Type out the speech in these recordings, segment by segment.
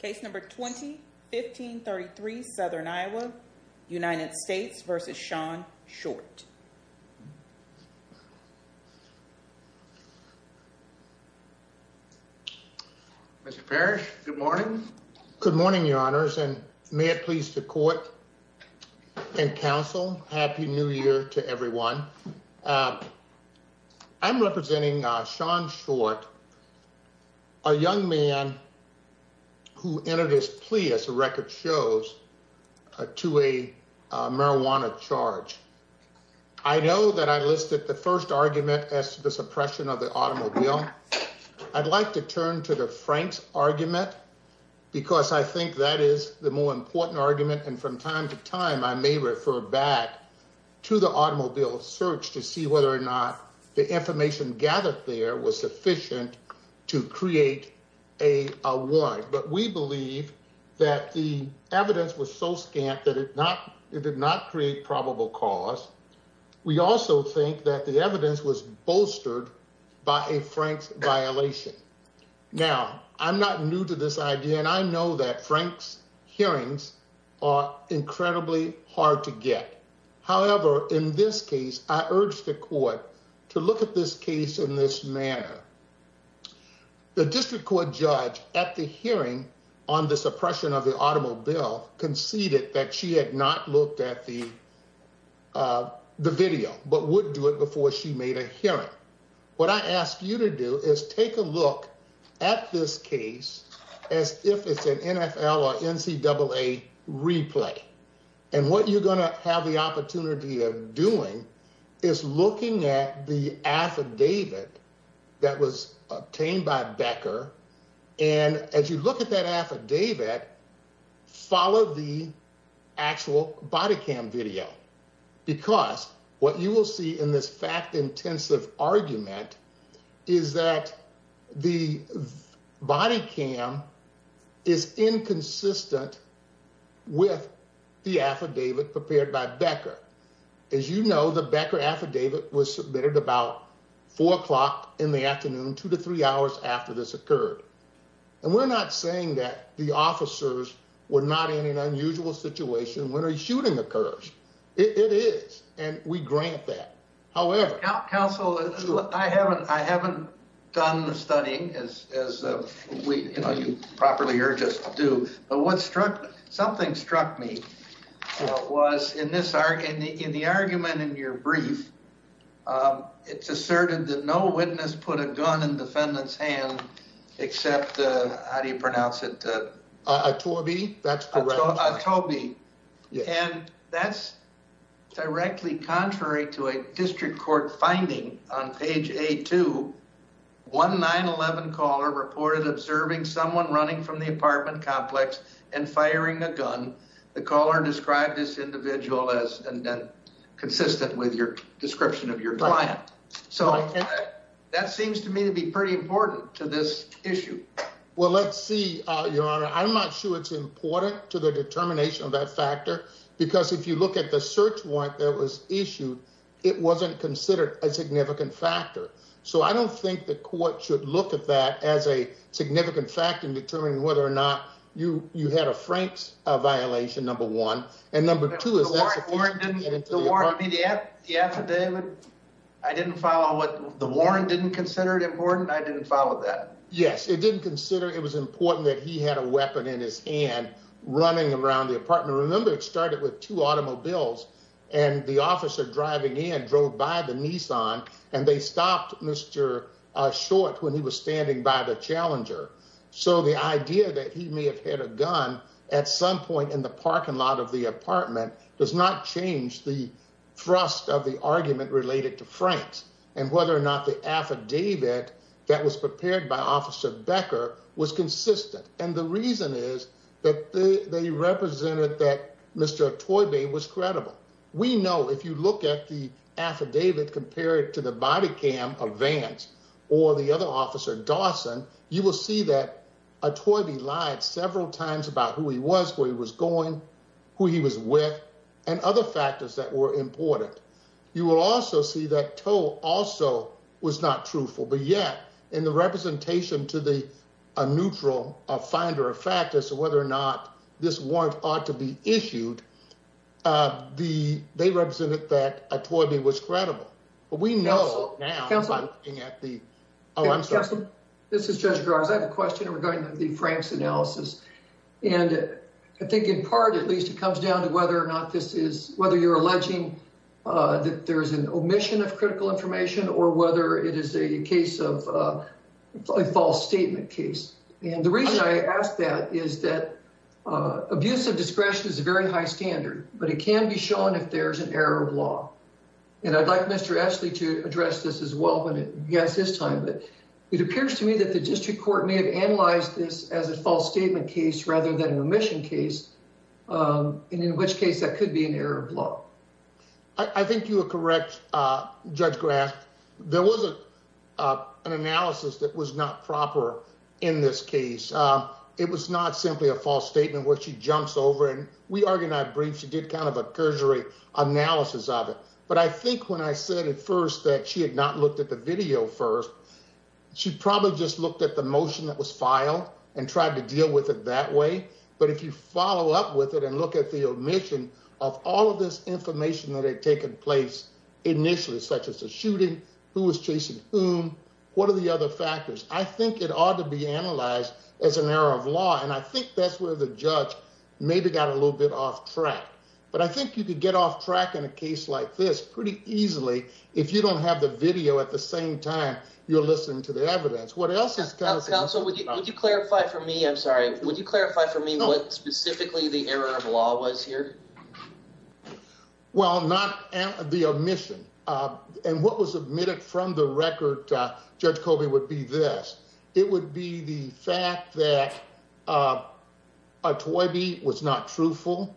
Case number 20-1533, Southern Iowa, United States v. Shaun Short. Mr. Parrish, good morning. Good morning, Your Honors, and may it please the Court and Council, Happy New Year to everyone. I'm representing Shaun Short, a young man who entered his plea, as the record shows, to a marijuana charge. I know that I listed the first argument as to the suppression of the automobile. I'd like to turn to the Frank's argument, because I think that is the more important argument. And from time to time, I may refer back to the automobile search to see whether or But we believe that the evidence was so scant that it did not create probable cause. We also think that the evidence was bolstered by a Frank's violation. Now, I'm not new to this idea, and I know that Frank's hearings are incredibly hard to get. However, in this case, I urge the Court to look at this case in this manner. The district court judge at the hearing on the suppression of the automobile conceded that she had not looked at the video, but would do it before she made a hearing. What I ask you to do is take a look at this case as if it's an NFL or NCAA replay. And what you're going to have the opportunity of is looking at the affidavit that was obtained by Becker. And as you look at that affidavit, follow the actual body cam video, because what you will see in this fact intensive argument is that the body cam is inconsistent with the the Becker affidavit was submitted about four o'clock in the afternoon, two to three hours after this occurred. And we're not saying that the officers were not in an unusual situation when a shooting occurs. It is, and we grant that. However, counsel, I haven't I haven't done studying as we properly are just to do. But what struck something struck me was in this arc in the in the argument in your brief, it's asserted that no witness put a gun in defendant's hand, except how do you pronounce it? Toby. That's correct. Toby. And that's directly contrary to a district court finding on page a 219 11 caller reported observing someone running from the apartment complex and firing a gun. The caller described this individual as and then consistent with your description of your client. So that seems to me to be pretty important to this issue. Well, let's see, Your Honor, I'm not sure it's important to the determination of that factor, because if you look at the search warrant that was issued, it wasn't considered a significant factor. So I don't think the court should look at that as a significant factor in determining whether or not you you had a Frank's a violation number one and number two is that Warren didn't get into the war to be the at the affidavit. I didn't follow what the Warren didn't consider it important. I didn't follow that. Yes, it didn't consider it was important that he had a weapon in his hand running around the apartment. Remember, it started with two automobiles and the short when he was standing by the challenger. So the idea that he may have had a gun at some point in the parking lot of the apartment does not change the thrust of the argument related to Frank's and whether or not the affidavit that was prepared by Officer Becker was consistent. And the reason is that they represented that Mr Toy Bay was credible. We know if you look at the affidavit compared to the body cam of Vance or the other officer Dawson, you will see that a toy be lied several times about who he was, where he was going, who he was with and other factors that were important. You will also see that toe also was not truthful. But yet in the representation to the neutral finder of factors, whether or not this warrant ought to be toward me was credible. But we know now at the Oh, I'm sorry. This is Judge Grimes. I have a question regarding the Frank's analysis. And I think in part, at least it comes down to whether or not this is whether you're alleging that there is an omission of critical information or whether it is a case of a false statement case. And the reason I asked that is that abuse of discretion is a very high standard, but it can be shown if there's an error of and I'd like Mr Ashley to address this as well when it gets his time. But it appears to me that the district court may have analyzed this as a false statement case rather than an omission case. Um, in which case that could be an error of law. I think you're correct. Uh, Judge Graf, there wasn't, uh, an analysis that was not proper in this case. Um, it was not simply a false statement where she jumps over and we are going to brief. She did kind of a but I think when I said at first that she had not looked at the video first, she probably just looked at the motion that was filed and tried to deal with it that way. But if you follow up with it and look at the omission off all of this information that had taken place initially, such as the shooting, who was chasing whom? What are the other factors? I think it ought to be analyzed as an error of law. And I think that's where the judge maybe got a track in a case like this pretty easily. If you don't have the video at the same time, you're listening to the evidence. What else is council? Would you clarify for me? I'm sorry. Would you clarify for me what specifically the error of law was here? Well, not the omission. Uh, and what was admitted from the record? Judge Kobe would be this. It would be the fact that, uh, a toy beat was not truthful,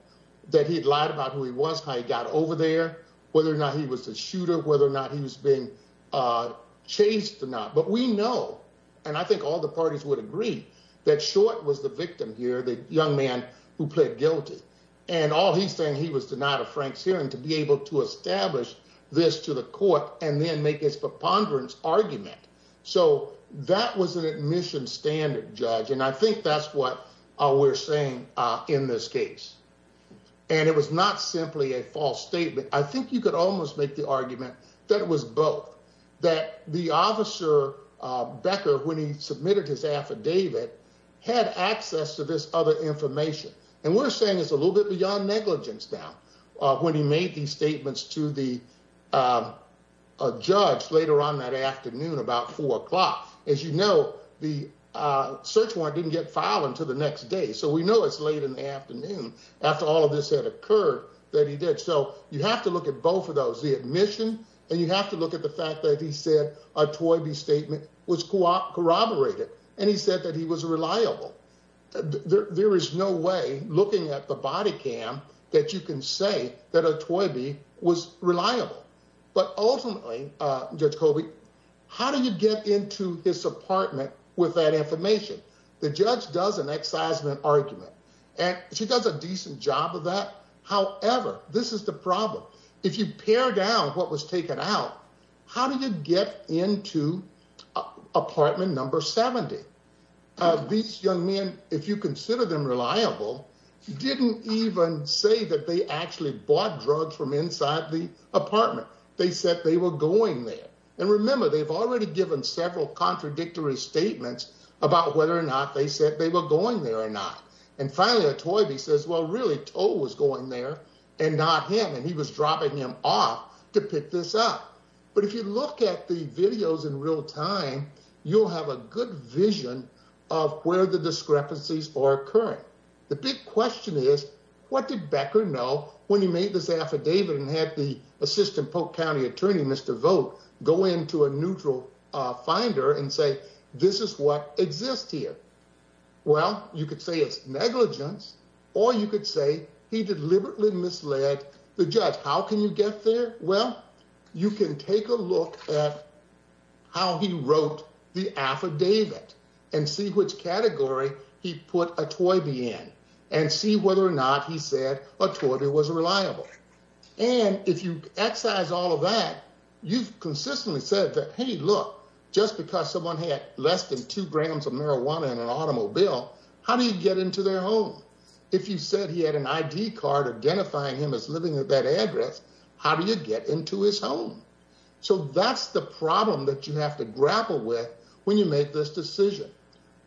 that he'd lied about who he was, how he got over there, whether or not he was a shooter, whether or not he was being, uh, chased or not. But we know, and I think all the parties would agree that short was the victim here. The young man who played guilty and all he's saying he was denied a Frank's hearing to be able to establish this to the court and then make his preponderance argument. So that was an admission standard judge. And I think that's what we're saying in this case. And it was not simply a false statement. I think you could almost make the argument that it was both that the officer Becker, when he submitted his affidavit, had access to this other information. And we're saying it's a little bit beyond negligence. Now, when he made these statements to the, uh, judge later on that afternoon, about four o'clock, as you know, the, uh, search warrant didn't get filed until the next day. So we know it's late in the afternoon after all of this had occurred that he did. So you have to look at both of those, the admission and you have to look at the fact that he said a toy B statement was corroborated. And he said that he was reliable. There is no way looking at the body cam that you can say that a toy B was reliable. But ultimately, Judge Kobe, how do you get into his apartment with that information? The judge does an excisement argument, and she does a decent job of that. However, this is the problem. If you pare down what was taken out, how do you get into apartment number 70? These young men, if you consider them reliable, didn't even say that they actually bought drugs from inside the And remember, they've already given several contradictory statements about whether or not they said they were going there or not. And finally, a toy B says, Well, really, toe was going there and not him. And he was dropping him off to pick this up. But if you look at the videos in real time, you'll have a good vision of where the discrepancies are occurring. The big question is, what did Becker know when he made this affidavit and had the assistant Polk County attorney, Mr Vote, go into a neutral finder and say, This is what exists here. Well, you could say it's negligence, or you could say he deliberately misled the judge. How can you get there? Well, you can take a look at how he wrote the affidavit and see which category he put a toy B in and see whether or not he said a toy B was reliable. And if you exercise all of that, you've consistently said that, Hey, look, just because someone had less than two grams of marijuana in an automobile, how do you get into their home? If you said he had an I d card identifying him as living at that address, how do you get into his home? So that's the problem that you have to grapple with when you make this decision.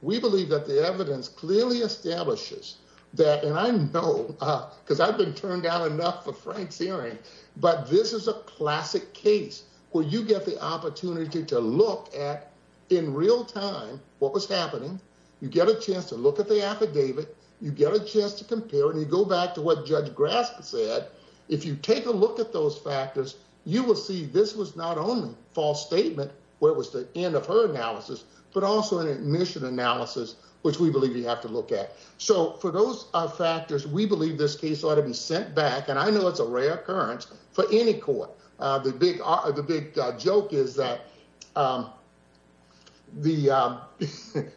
We believe that the evidence clearly establishes that. And I know because I've been turned down enough for Frank's hearing, but this is a classic case where you get the opportunity to look at in real time what was happening. You get a chance to look at the affidavit. You get a chance to compare and you go back to what Judge Grass said. If you take a look at those factors, you will see this was not only false statement where was the end of her analysis, but also an admission analysis, which we believe you have to look at. So for those factors, we believe this case ought to be sent back. And I know it's a rare occurrence for any court. The big the big joke is that, um, the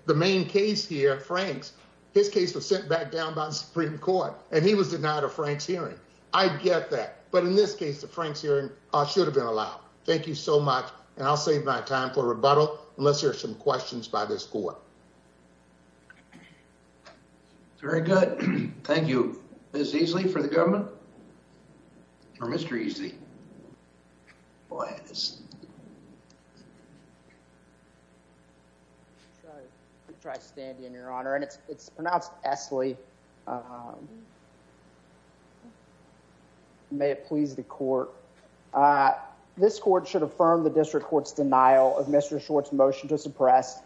the main case here, Frank's his case was sent back down by the Supreme Court and he was denied a Frank's hearing. I get that. But in this case, the Frank's hearing should have been allowed. Thank you so much. And I'll save my time for rebuttal. Let's hear some questions by this court. Very good. Thank you. Ms. Easley for the government? Or Mr. Easley? Go ahead. I'll try to stand in, Your Honor, and it's pronounced Esley. Um, may it please the court. Uh, this court should affirm the district court's press.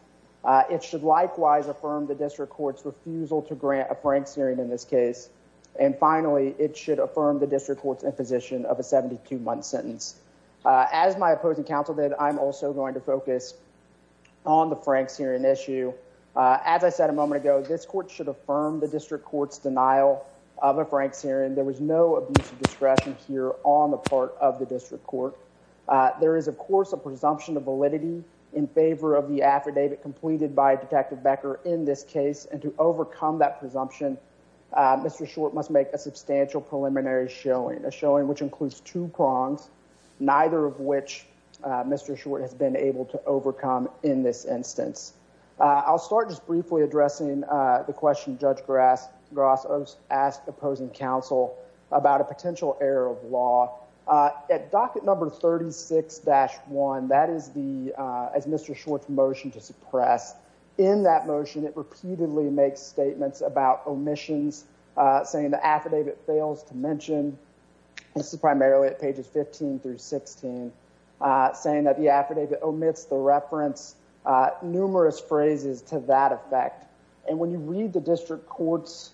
It should likewise affirm the district court's refusal to grant a Frank's hearing in this case. And finally, it should affirm the district court's imposition of a 72 month sentence. Aziz, my opposing counsel that I'm also going to focus on the Frank's hearing issue. Aziz said a moment ago, this court should affirm the district court's denial of a Frank's hearing. There was no abuse of discretion here on the part of the district court. There is, of course, a presumption of validity in favor of the affidavit completed by Detective Becker in this case. And to overcome that presumption, Mr Short must make a substantial preliminary showing a showing which includes two prongs, neither of which Mr Short has been able to overcome in this instance. I'll start just briefly addressing the question. Judge Grass Gross asked opposing counsel about a potential error of law at docket number 36-1. That is the as Mr. Short's motion to suppress. In that motion, it repeatedly makes statements about omissions, saying the affidavit fails to mention. This is primarily at pages 15 through 16, saying that the affidavit omits the reference numerous phrases to that effect. And when you read the district court's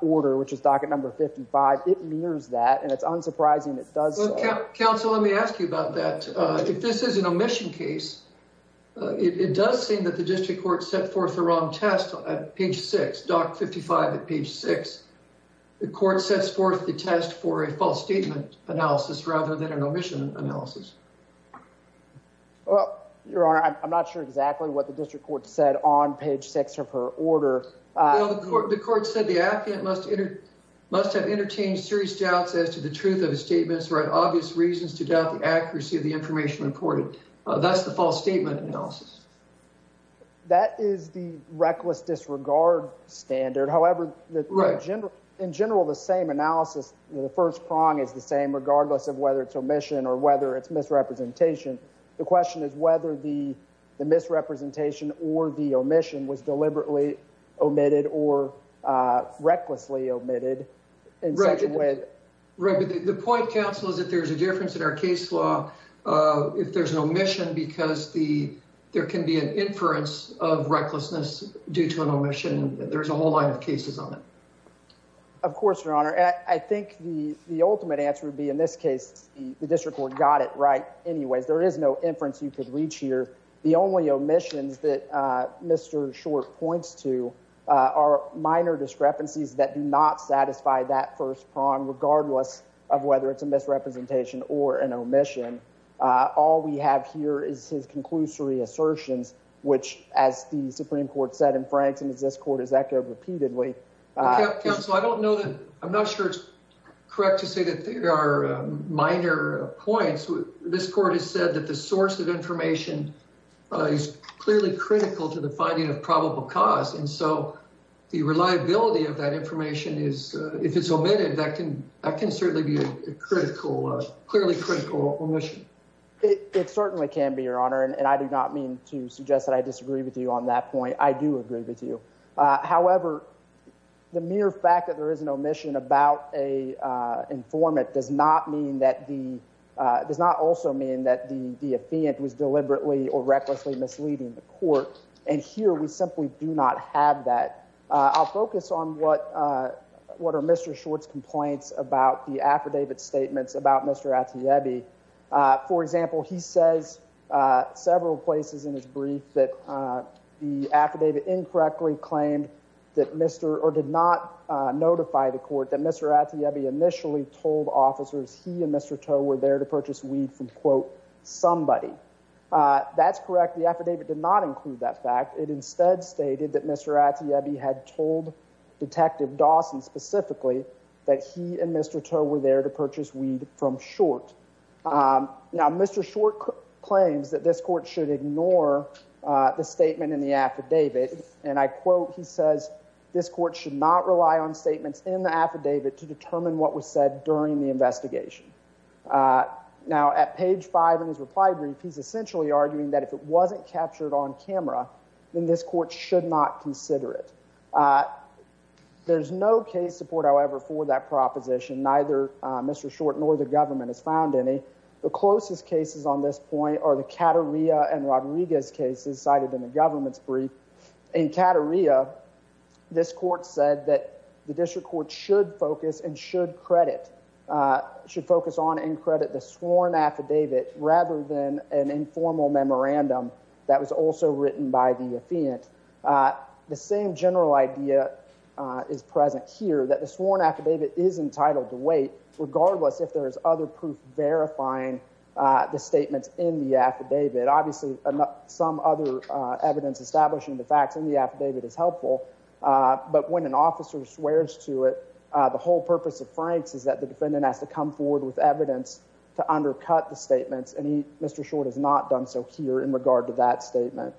order, which is docket number 55, it mirrors that, and it's unsurprising. It does. Counsel, let me ask you about that. If this is an omission case, it does seem that the district court set forth the wrong test at page six. Dock 55 at page six. The court sets forth the test for a false statement analysis rather than an omission analysis. Well, Your Honor, I'm not sure exactly what the district court said on page six of her order. The court said the affidavit must have entertained serious doubts as to the truth of the statements, or had obvious reasons to doubt the accuracy of the information reported. That's the false statement analysis. That is the reckless disregard standard. However, in general, the same analysis, the first prong is the same, regardless of whether it's omission or whether it's misrepresentation. The question is whether the misrepresentation or the omission was deliberately omitted or recklessly omitted in such a way. Right, but the point, counsel, is that there's a difference in our case law if there's an omission because there can be an inference of recklessness due to an omission. There's a whole line of cases on it. Of course, Your Honor, I think the ultimate answer would be, in this case, the district court got it right anyways. There is no inference you could reach here. The only omissions that Mr. Short points to are minor discrepancies that do not satisfy that first prong, regardless of whether it's a misrepresentation or an omission. All we have here is his conclusory assertions, which, as the Supreme Court said in Frankston, as this court has echoed repeatedly. Counsel, I don't know that. I'm not sure it's correct to say that there are minor points. This court has said that the source of information is clearly critical to the finding of probable cause, and so the reliability of that information is, if it's omitted, that can certainly be a clearly critical omission. It certainly can be, Your Honor, and I do not mean to suggest that I disagree with you on that point. I do agree with you. However, the mere fact that there is an omission, the defendant was deliberately or recklessly misleading the court, and here we simply do not have that. I'll focus on what are Mr. Short's complaints about the affidavit statements about Mr. Atiebi. For example, he says several places in his brief that the affidavit incorrectly claimed that Mr. or did not notify the court that Mr. Atiebi initially told officers he and Mr. Toe were there to purchase weed from, quote, somebody. That's correct. The affidavit did not include that fact. It instead stated that Mr. Atiebi had told Detective Dawson specifically that he and Mr. Toe were there to purchase weed from Short. Now, Mr. Short claims that this court should ignore the statement in the affidavit, and I quote, he says, this court should not rely on statements in the affidavit to In his reply brief, he's essentially arguing that if it wasn't captured on camera, then this court should not consider it. There's no case support, however, for that proposition. Neither Mr. Short nor the government has found any. The closest cases on this point are the Cattoria and Rodriguez cases cited in the government's brief. In Cattoria, this court said that the district court should focus and should credit, should focus on and credit the sworn affidavit rather than an informal memorandum that was also written by the affiant. The same general idea is present here that the sworn affidavit is entitled to wait regardless if there is other proof verifying the statements in the affidavit. Obviously, some other evidence establishing the facts in the affidavit is helpful, but when an officer swears to it, the whole purpose of Frank's is that the defendant has to come forward with statements and he, Mr. Short, has not done so here in regard to that statement.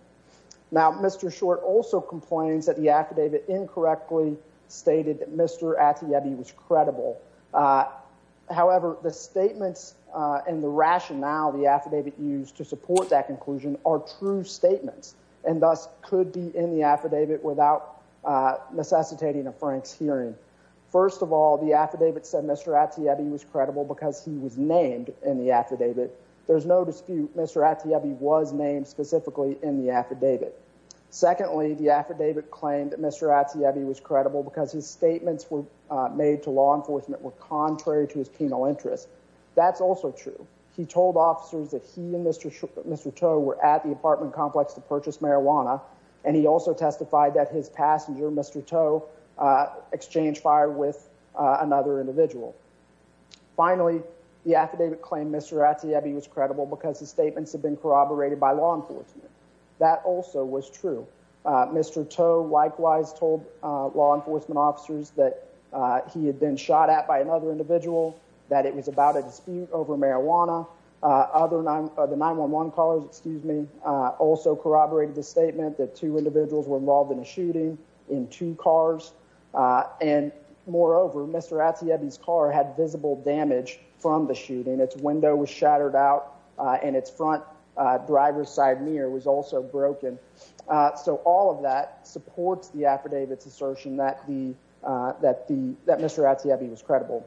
Now, Mr. Short also complains that the affidavit incorrectly stated that Mr. Atiyebi was credible. Uh, however, the statements and the rationale the affidavit used to support that conclusion are true statements and thus could be in the affidavit without necessitating a Frank's hearing. First of all, the affidavit said Mr. Atiyebi was credible because he was named in the affidavit. There's no dispute Mr. Atiyebi was named specifically in the affidavit. Secondly, the affidavit claimed that Mr. Atiyebi was credible because his statements were made to law enforcement were contrary to his penal interest. That's also true. He told officers that he and Mr. Toe were at the apartment complex to purchase marijuana, and he also testified that his passenger, Mr. Toe, exchanged fire with another individual. Finally, the Mr. Atiyebi was credible because his statements have been corroborated by law enforcement. That also was true. Mr. Toe likewise told law enforcement officers that he had been shot at by another individual, that it was about a dispute over marijuana. Other 9-1-1 calls, excuse me, also corroborated the statement that two individuals were involved in a shooting in two cars, and moreover, Mr. Atiyebi's car had visible damage from the shooting. Its window was shattered out, and its front driver's side mirror was also broken. So all of that supports the affidavit's assertion that Mr. Atiyebi was credible.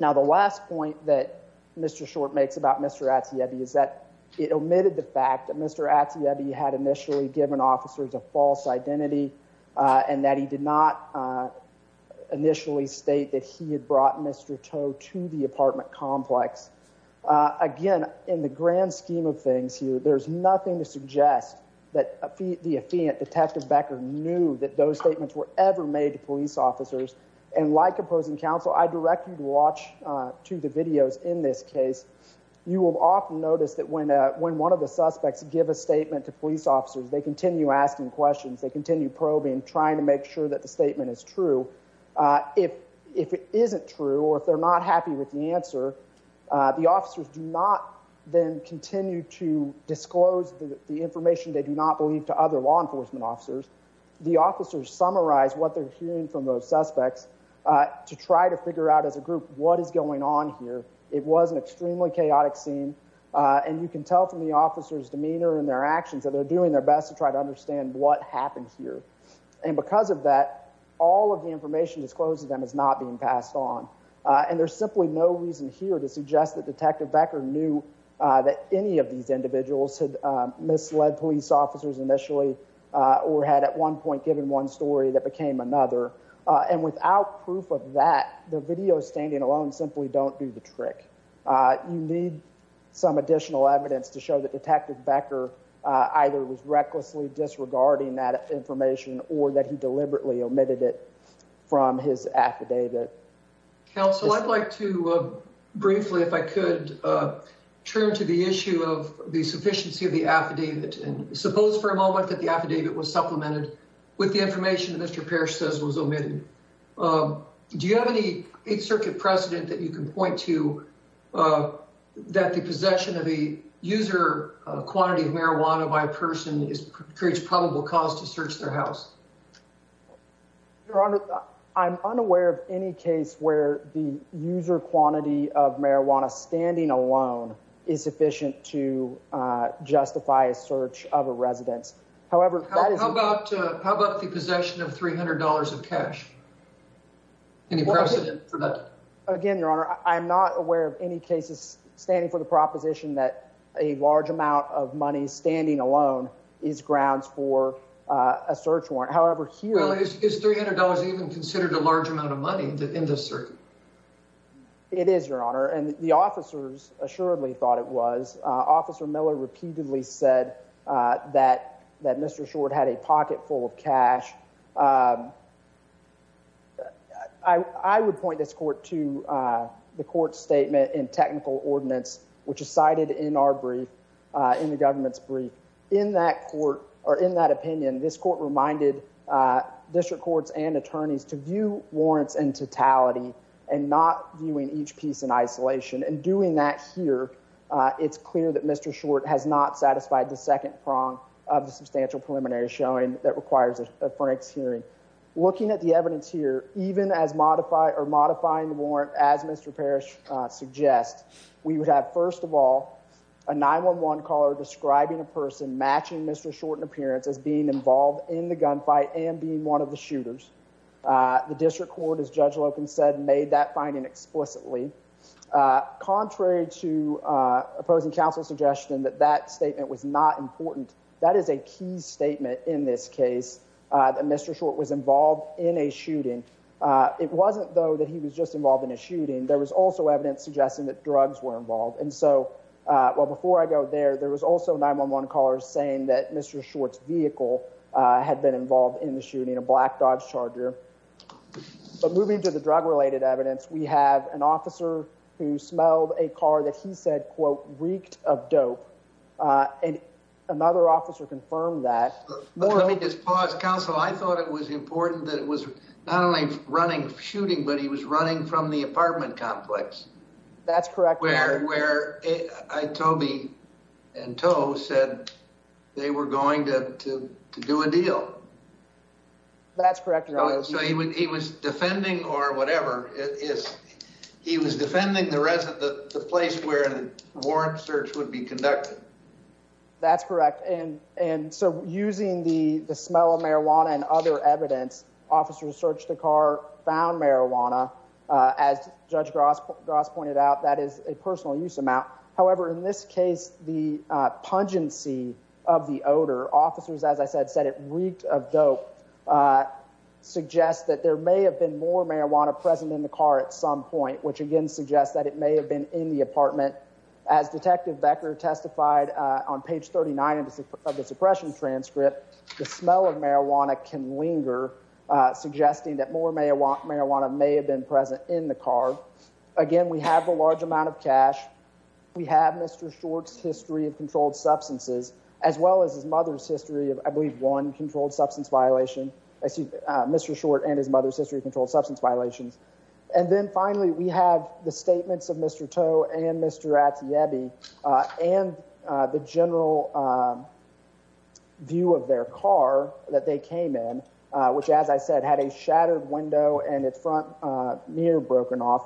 Now the last point that Mr. Short makes about Mr. Atiyebi is that it omitted the fact that Mr. Atiyebi had initially given officers a false identity, and that he did not initially state that he had brought Mr. Toe to the crime scene. Again, in the grand scheme of things here, there's nothing to suggest that the affiant Detective Becker knew that those statements were ever made to police officers. And like opposing counsel, I direct you to watch to the videos in this case. You will often notice that when one of the suspects give a statement to police officers, they continue asking questions, they continue probing, trying to make sure that the statement is true. If it isn't true, or if they're not happy with the answer, the officers do not then continue to disclose the information they do not believe to other law enforcement officers. The officers summarize what they're hearing from those suspects to try to figure out as a group what is going on here. It was an extremely chaotic scene, and you can tell from the officers' demeanor and their actions that they're doing their best to try to understand what happened here. And all of the information disclosed to them is not being passed on. And there's simply no reason here to suggest that Detective Becker knew that any of these individuals had misled police officers initially, or had at one point given one story that became another. And without proof of that, the videos standing alone simply don't do the trick. You need some additional evidence to show that Detective Becker either was recklessly disregarding that information or that he was trying to get information from his affidavit. Counsel, I'd like to briefly, if I could, turn to the issue of the sufficiency of the affidavit. And suppose for a moment that the affidavit was supplemented with the information that Mr. Parrish says was omitted. Do you have any Eight Circuit precedent that you can point to that the possession of a user quantity of marijuana by a person creates probable cause to search their house? Your Honor, I'm unaware of any case where the user quantity of marijuana standing alone is sufficient to justify a search of a residence. However, that is How about the possession of $300 of cash? Any precedent for that? Again, Your Honor, I'm not aware of any cases standing for the proposition that a large amount of money standing alone is grounds for a search warrant. However, here is $300 even considered a large amount of money in this circuit. It is, Your Honor, and the officers assuredly thought it was. Officer Miller repeatedly said that that Mr. Short had a pocket full of cash. I would point this court to the court statement in technical ordinance, which is cited in our brief, in the government's brief. In that court or in that opinion, this court reminded district courts and attorneys to view warrants in totality and not viewing each piece in isolation. And doing that here, it's clear that Mr. Short has not satisfied the second prong of the substantial preliminary showing that requires a Frank's hearing. Looking at the evidence here, even as modify or modifying the warrant as Mr. Parrish suggests, we would have, first of all, a 911 caller describing a person matching Mr. Short in appearance as being involved in the gunfight and being one of the shooters. The district court, as Judge Loken said, made that finding explicitly. Contrary to opposing counsel's suggestion that that statement was not important, that is a key statement in this case that Mr. Short was involved in a shooting. It wasn't, though, that he was just evidence suggesting that drugs were involved. And so, well, before I go there, there was also 911 callers saying that Mr. Short's vehicle had been involved in the shooting a black Dodge Charger. But moving to the drug related evidence, we have an officer who smelled a car that he said, quote, reeked of dope. Uh, and another officer confirmed that. Let me just pause counsel. I thought it was important that it was not only running shooting, but he was running from the apartment complex. That's correct. Where I told me and toe said they were going to do a deal. That's correct. So he was defending or whatever it is. He was defending the resident, the place where the warrant search would be conducted. That's correct. And and so using the smell of marijuana and other evidence, officers searched the car, found marijuana. Aziz, Judge Gross Gross pointed out that is a personal use amount. However, in this case, the pungency of the odor officers, as I said, said it reeked of dope, uh, suggests that there may have been more marijuana present in the car at some point, which again suggests that it may have been in the apartment. As Detective Becker testified on page 39 of the suppression transcript, the smell of marijuana can linger, uh, suggesting that more may want marijuana may have been present in the car again. We have a large amount of cash. We have Mr Short's history of controlled substances as well as his mother's history of, I believe, one controlled substance violation. I see Mr Short and his mother's history of controlled substance violations. And then finally, we have the statements of Mr Toe and Mr Atiebi and the general, uh, view of their car that they came in, which, as I said, had a shattered window and its front mirror broken off.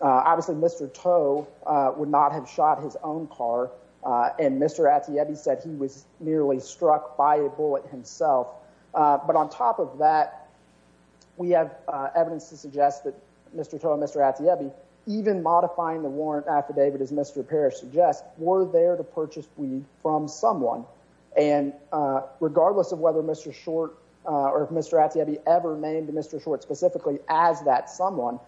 Obviously, Mr Toe would not have shot his own car, and Mr Atiebi said he was nearly struck by a bullet himself. But on top of that, we have evidence to suggest that Mr Toe and Mr Atiebi, even modifying the warrant affidavit, as Mr Parrish suggests, were there to purchase weed from someone. And regardless of whether Mr Short or Mr Atiebi ever named Mr Short specifically as that someone,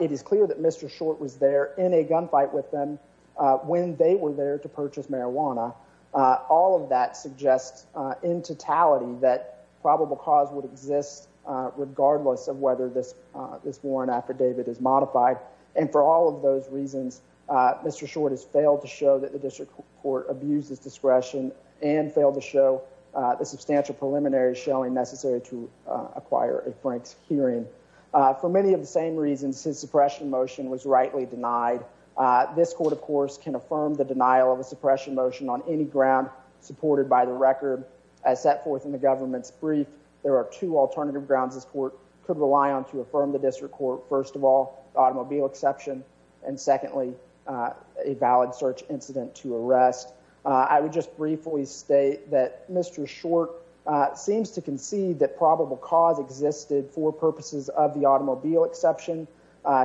it is clear that Mr Short was there in a gunfight with them when they were there to purchase marijuana. All of that suggests in totality that probable cause would exist regardless of whether this this warrant affidavit is modified. And for all of those reasons, Mr Short has failed to show that the district court abuses discretion and failed to show the substantial preliminaries showing necessary to acquire a Frank's hearing. For many of the same reasons, his suppression motion was rightly denied. This court, of course, can affirm the denial of a suppression motion on any ground supported by the record as set forth in the government's brief. There are two alternative grounds this court could rely on to affirm the district court. First of all, automobile exception. And secondly, a valid search incident to arrest. I would just briefly state that Mr Short seems to concede that probable cause existed for purposes of the automobile exception.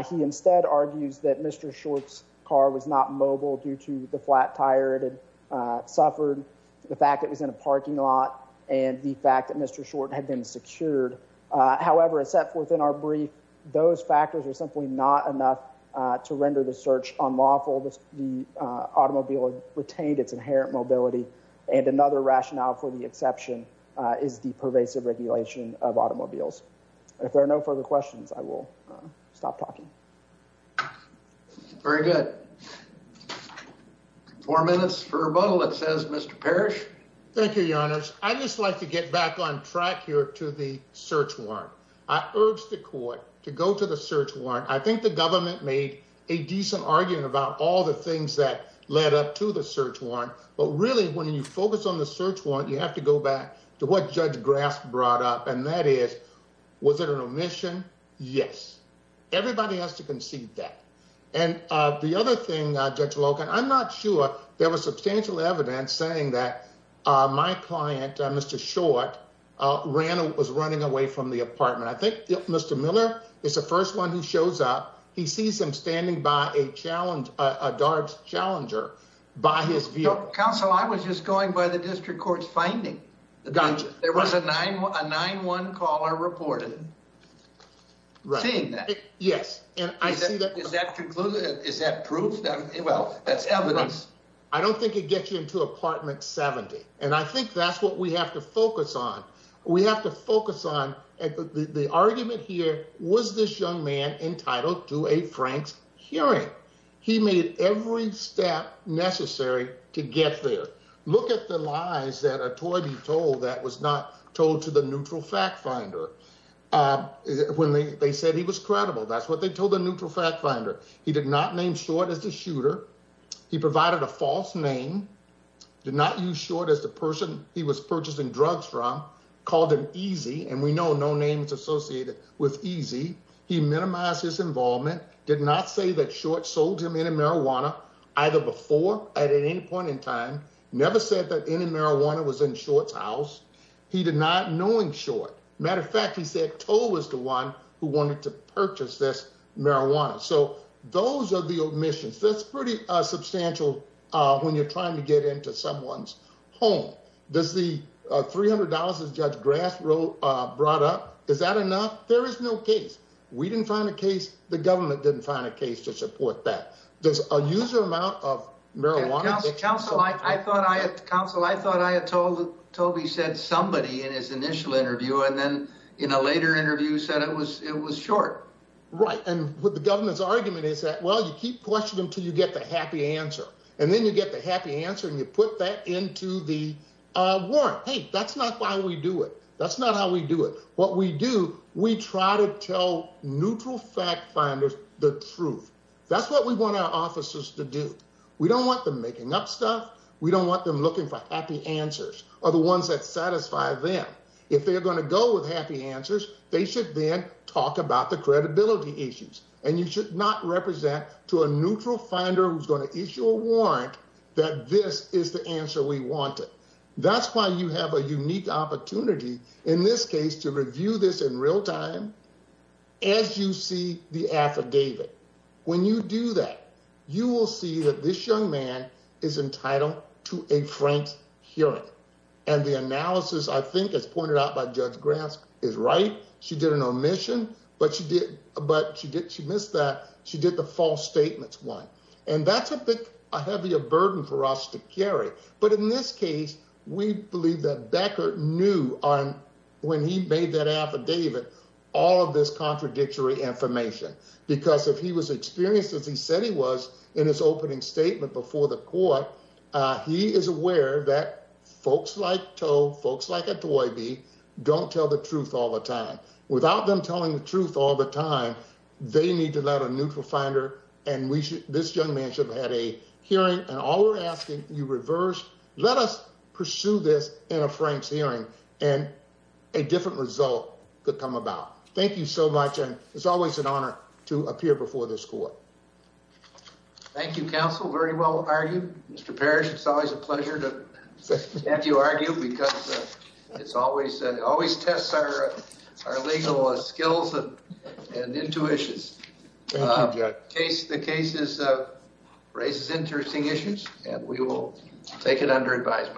He instead argues that Mr Short's car was not mobile due to the flat tire it had suffered, the fact it was in a parking lot, and the fact that Mr Short had been secured. However, except within our brief, those factors are simply not enough to render the search on lawful. The automobile retained its inherent mobility, and another rationale for the exception is the pervasive regulation of automobiles. If there are no further questions, I will stop talking. Very good. Four minutes for a bottle that says Mr Parish. Thank you, Your Honors. I'd like to go back to the search warrant. I urge the court to go to the search warrant. I think the government made a decent argument about all the things that led up to the search warrant. But really, when you focus on the search warrant, you have to go back to what Judge Grass brought up, and that is, was it an omission? Yes. Everybody has to concede that. And the other thing, Judge Logan, I'm not sure there was substantial evidence saying that my client, Mr Short, was running away from the apartment. I think Mr Miller is the first one who shows up. He sees him standing by a Darbs challenger by his vehicle. Counsel, I was just going by the district court's finding. There was a 9-1-1 caller reported seeing that. Yes. Is that proof? Well, that's evidence. I don't think it gets you into apartment 70, and I think that's what we have to focus on. We have to focus on the argument here. Was this young man entitled to a Frank's hearing? He made every step necessary to get there. Look at the lies that are told you told that was not told to the neutral fact finder. Uh, when they said he was credible, that's what they told the neutral fact finder. He did not name short as the shooter. He provided a false name, did not use short as the person he was purchasing drugs from called him easy, and we know no names associated with easy. He minimized his involvement, did not say that short sold him any marijuana either before at any point in time, never said that any marijuana was in short's house. He did not knowing short. Matter of fact, he said toe was the one who wanted to purchase this marijuana. So those are the omissions. That's pretty substantial. When you're trying to get into someone's home, there's the $300 of Judge Grass wrote brought up. Is that enough? There is no case. We didn't find a case. The government didn't find a case to support that. There's a user amount of marijuana. Council. I thought I had council. I thought I had told Toby said somebody in his initial interview and then in a later interview said it was it was short, right? And with the until you get the happy answer, and then you get the happy answer and you put that into the warrant. Hey, that's not why we do it. That's not how we do it. What we do. We try to tell neutral fact finders the truth. That's what we want our officers to do. We don't want them making up stuff. We don't want them looking for happy answers are the ones that satisfy them. If they're gonna go with happy answers, they should then talk about the credibility issues and you should not represent to a neutral finder who's going to issue a warrant that this is the answer we wanted. That's why you have a unique opportunity in this case to review this in real time. As you see the affidavit when you do that, you will see that this young man is entitled to a frank hearing. And the analysis, I think it's pointed out by Judge Grass is right. She did an omission, but she did. But she did. She missed that. She did the false statements one, and that's a bit heavier burden for us to carry. But in this case, we believe that Becker knew on when he made that affidavit all of this contradictory information because if he was experienced as he said he was in his opening statement before the court, he is aware that folks like toe folks like a toy be don't tell the truth all the time without them telling the truth all the time. They need to let a neutral finder and we should. This young man should have had a hearing and all we're asking you reverse. Let us pursue this in a Frank's hearing and a different result could come about. Thank you so much. And it's always an honor to appear before this court. Thank you, Counsel. Very well. Are you, Mr Parish? It's always a pleasure. Have you argue because it's always always tests are our legal skills and intuitions case. The case is raises interesting issues, and we will take it under advisement.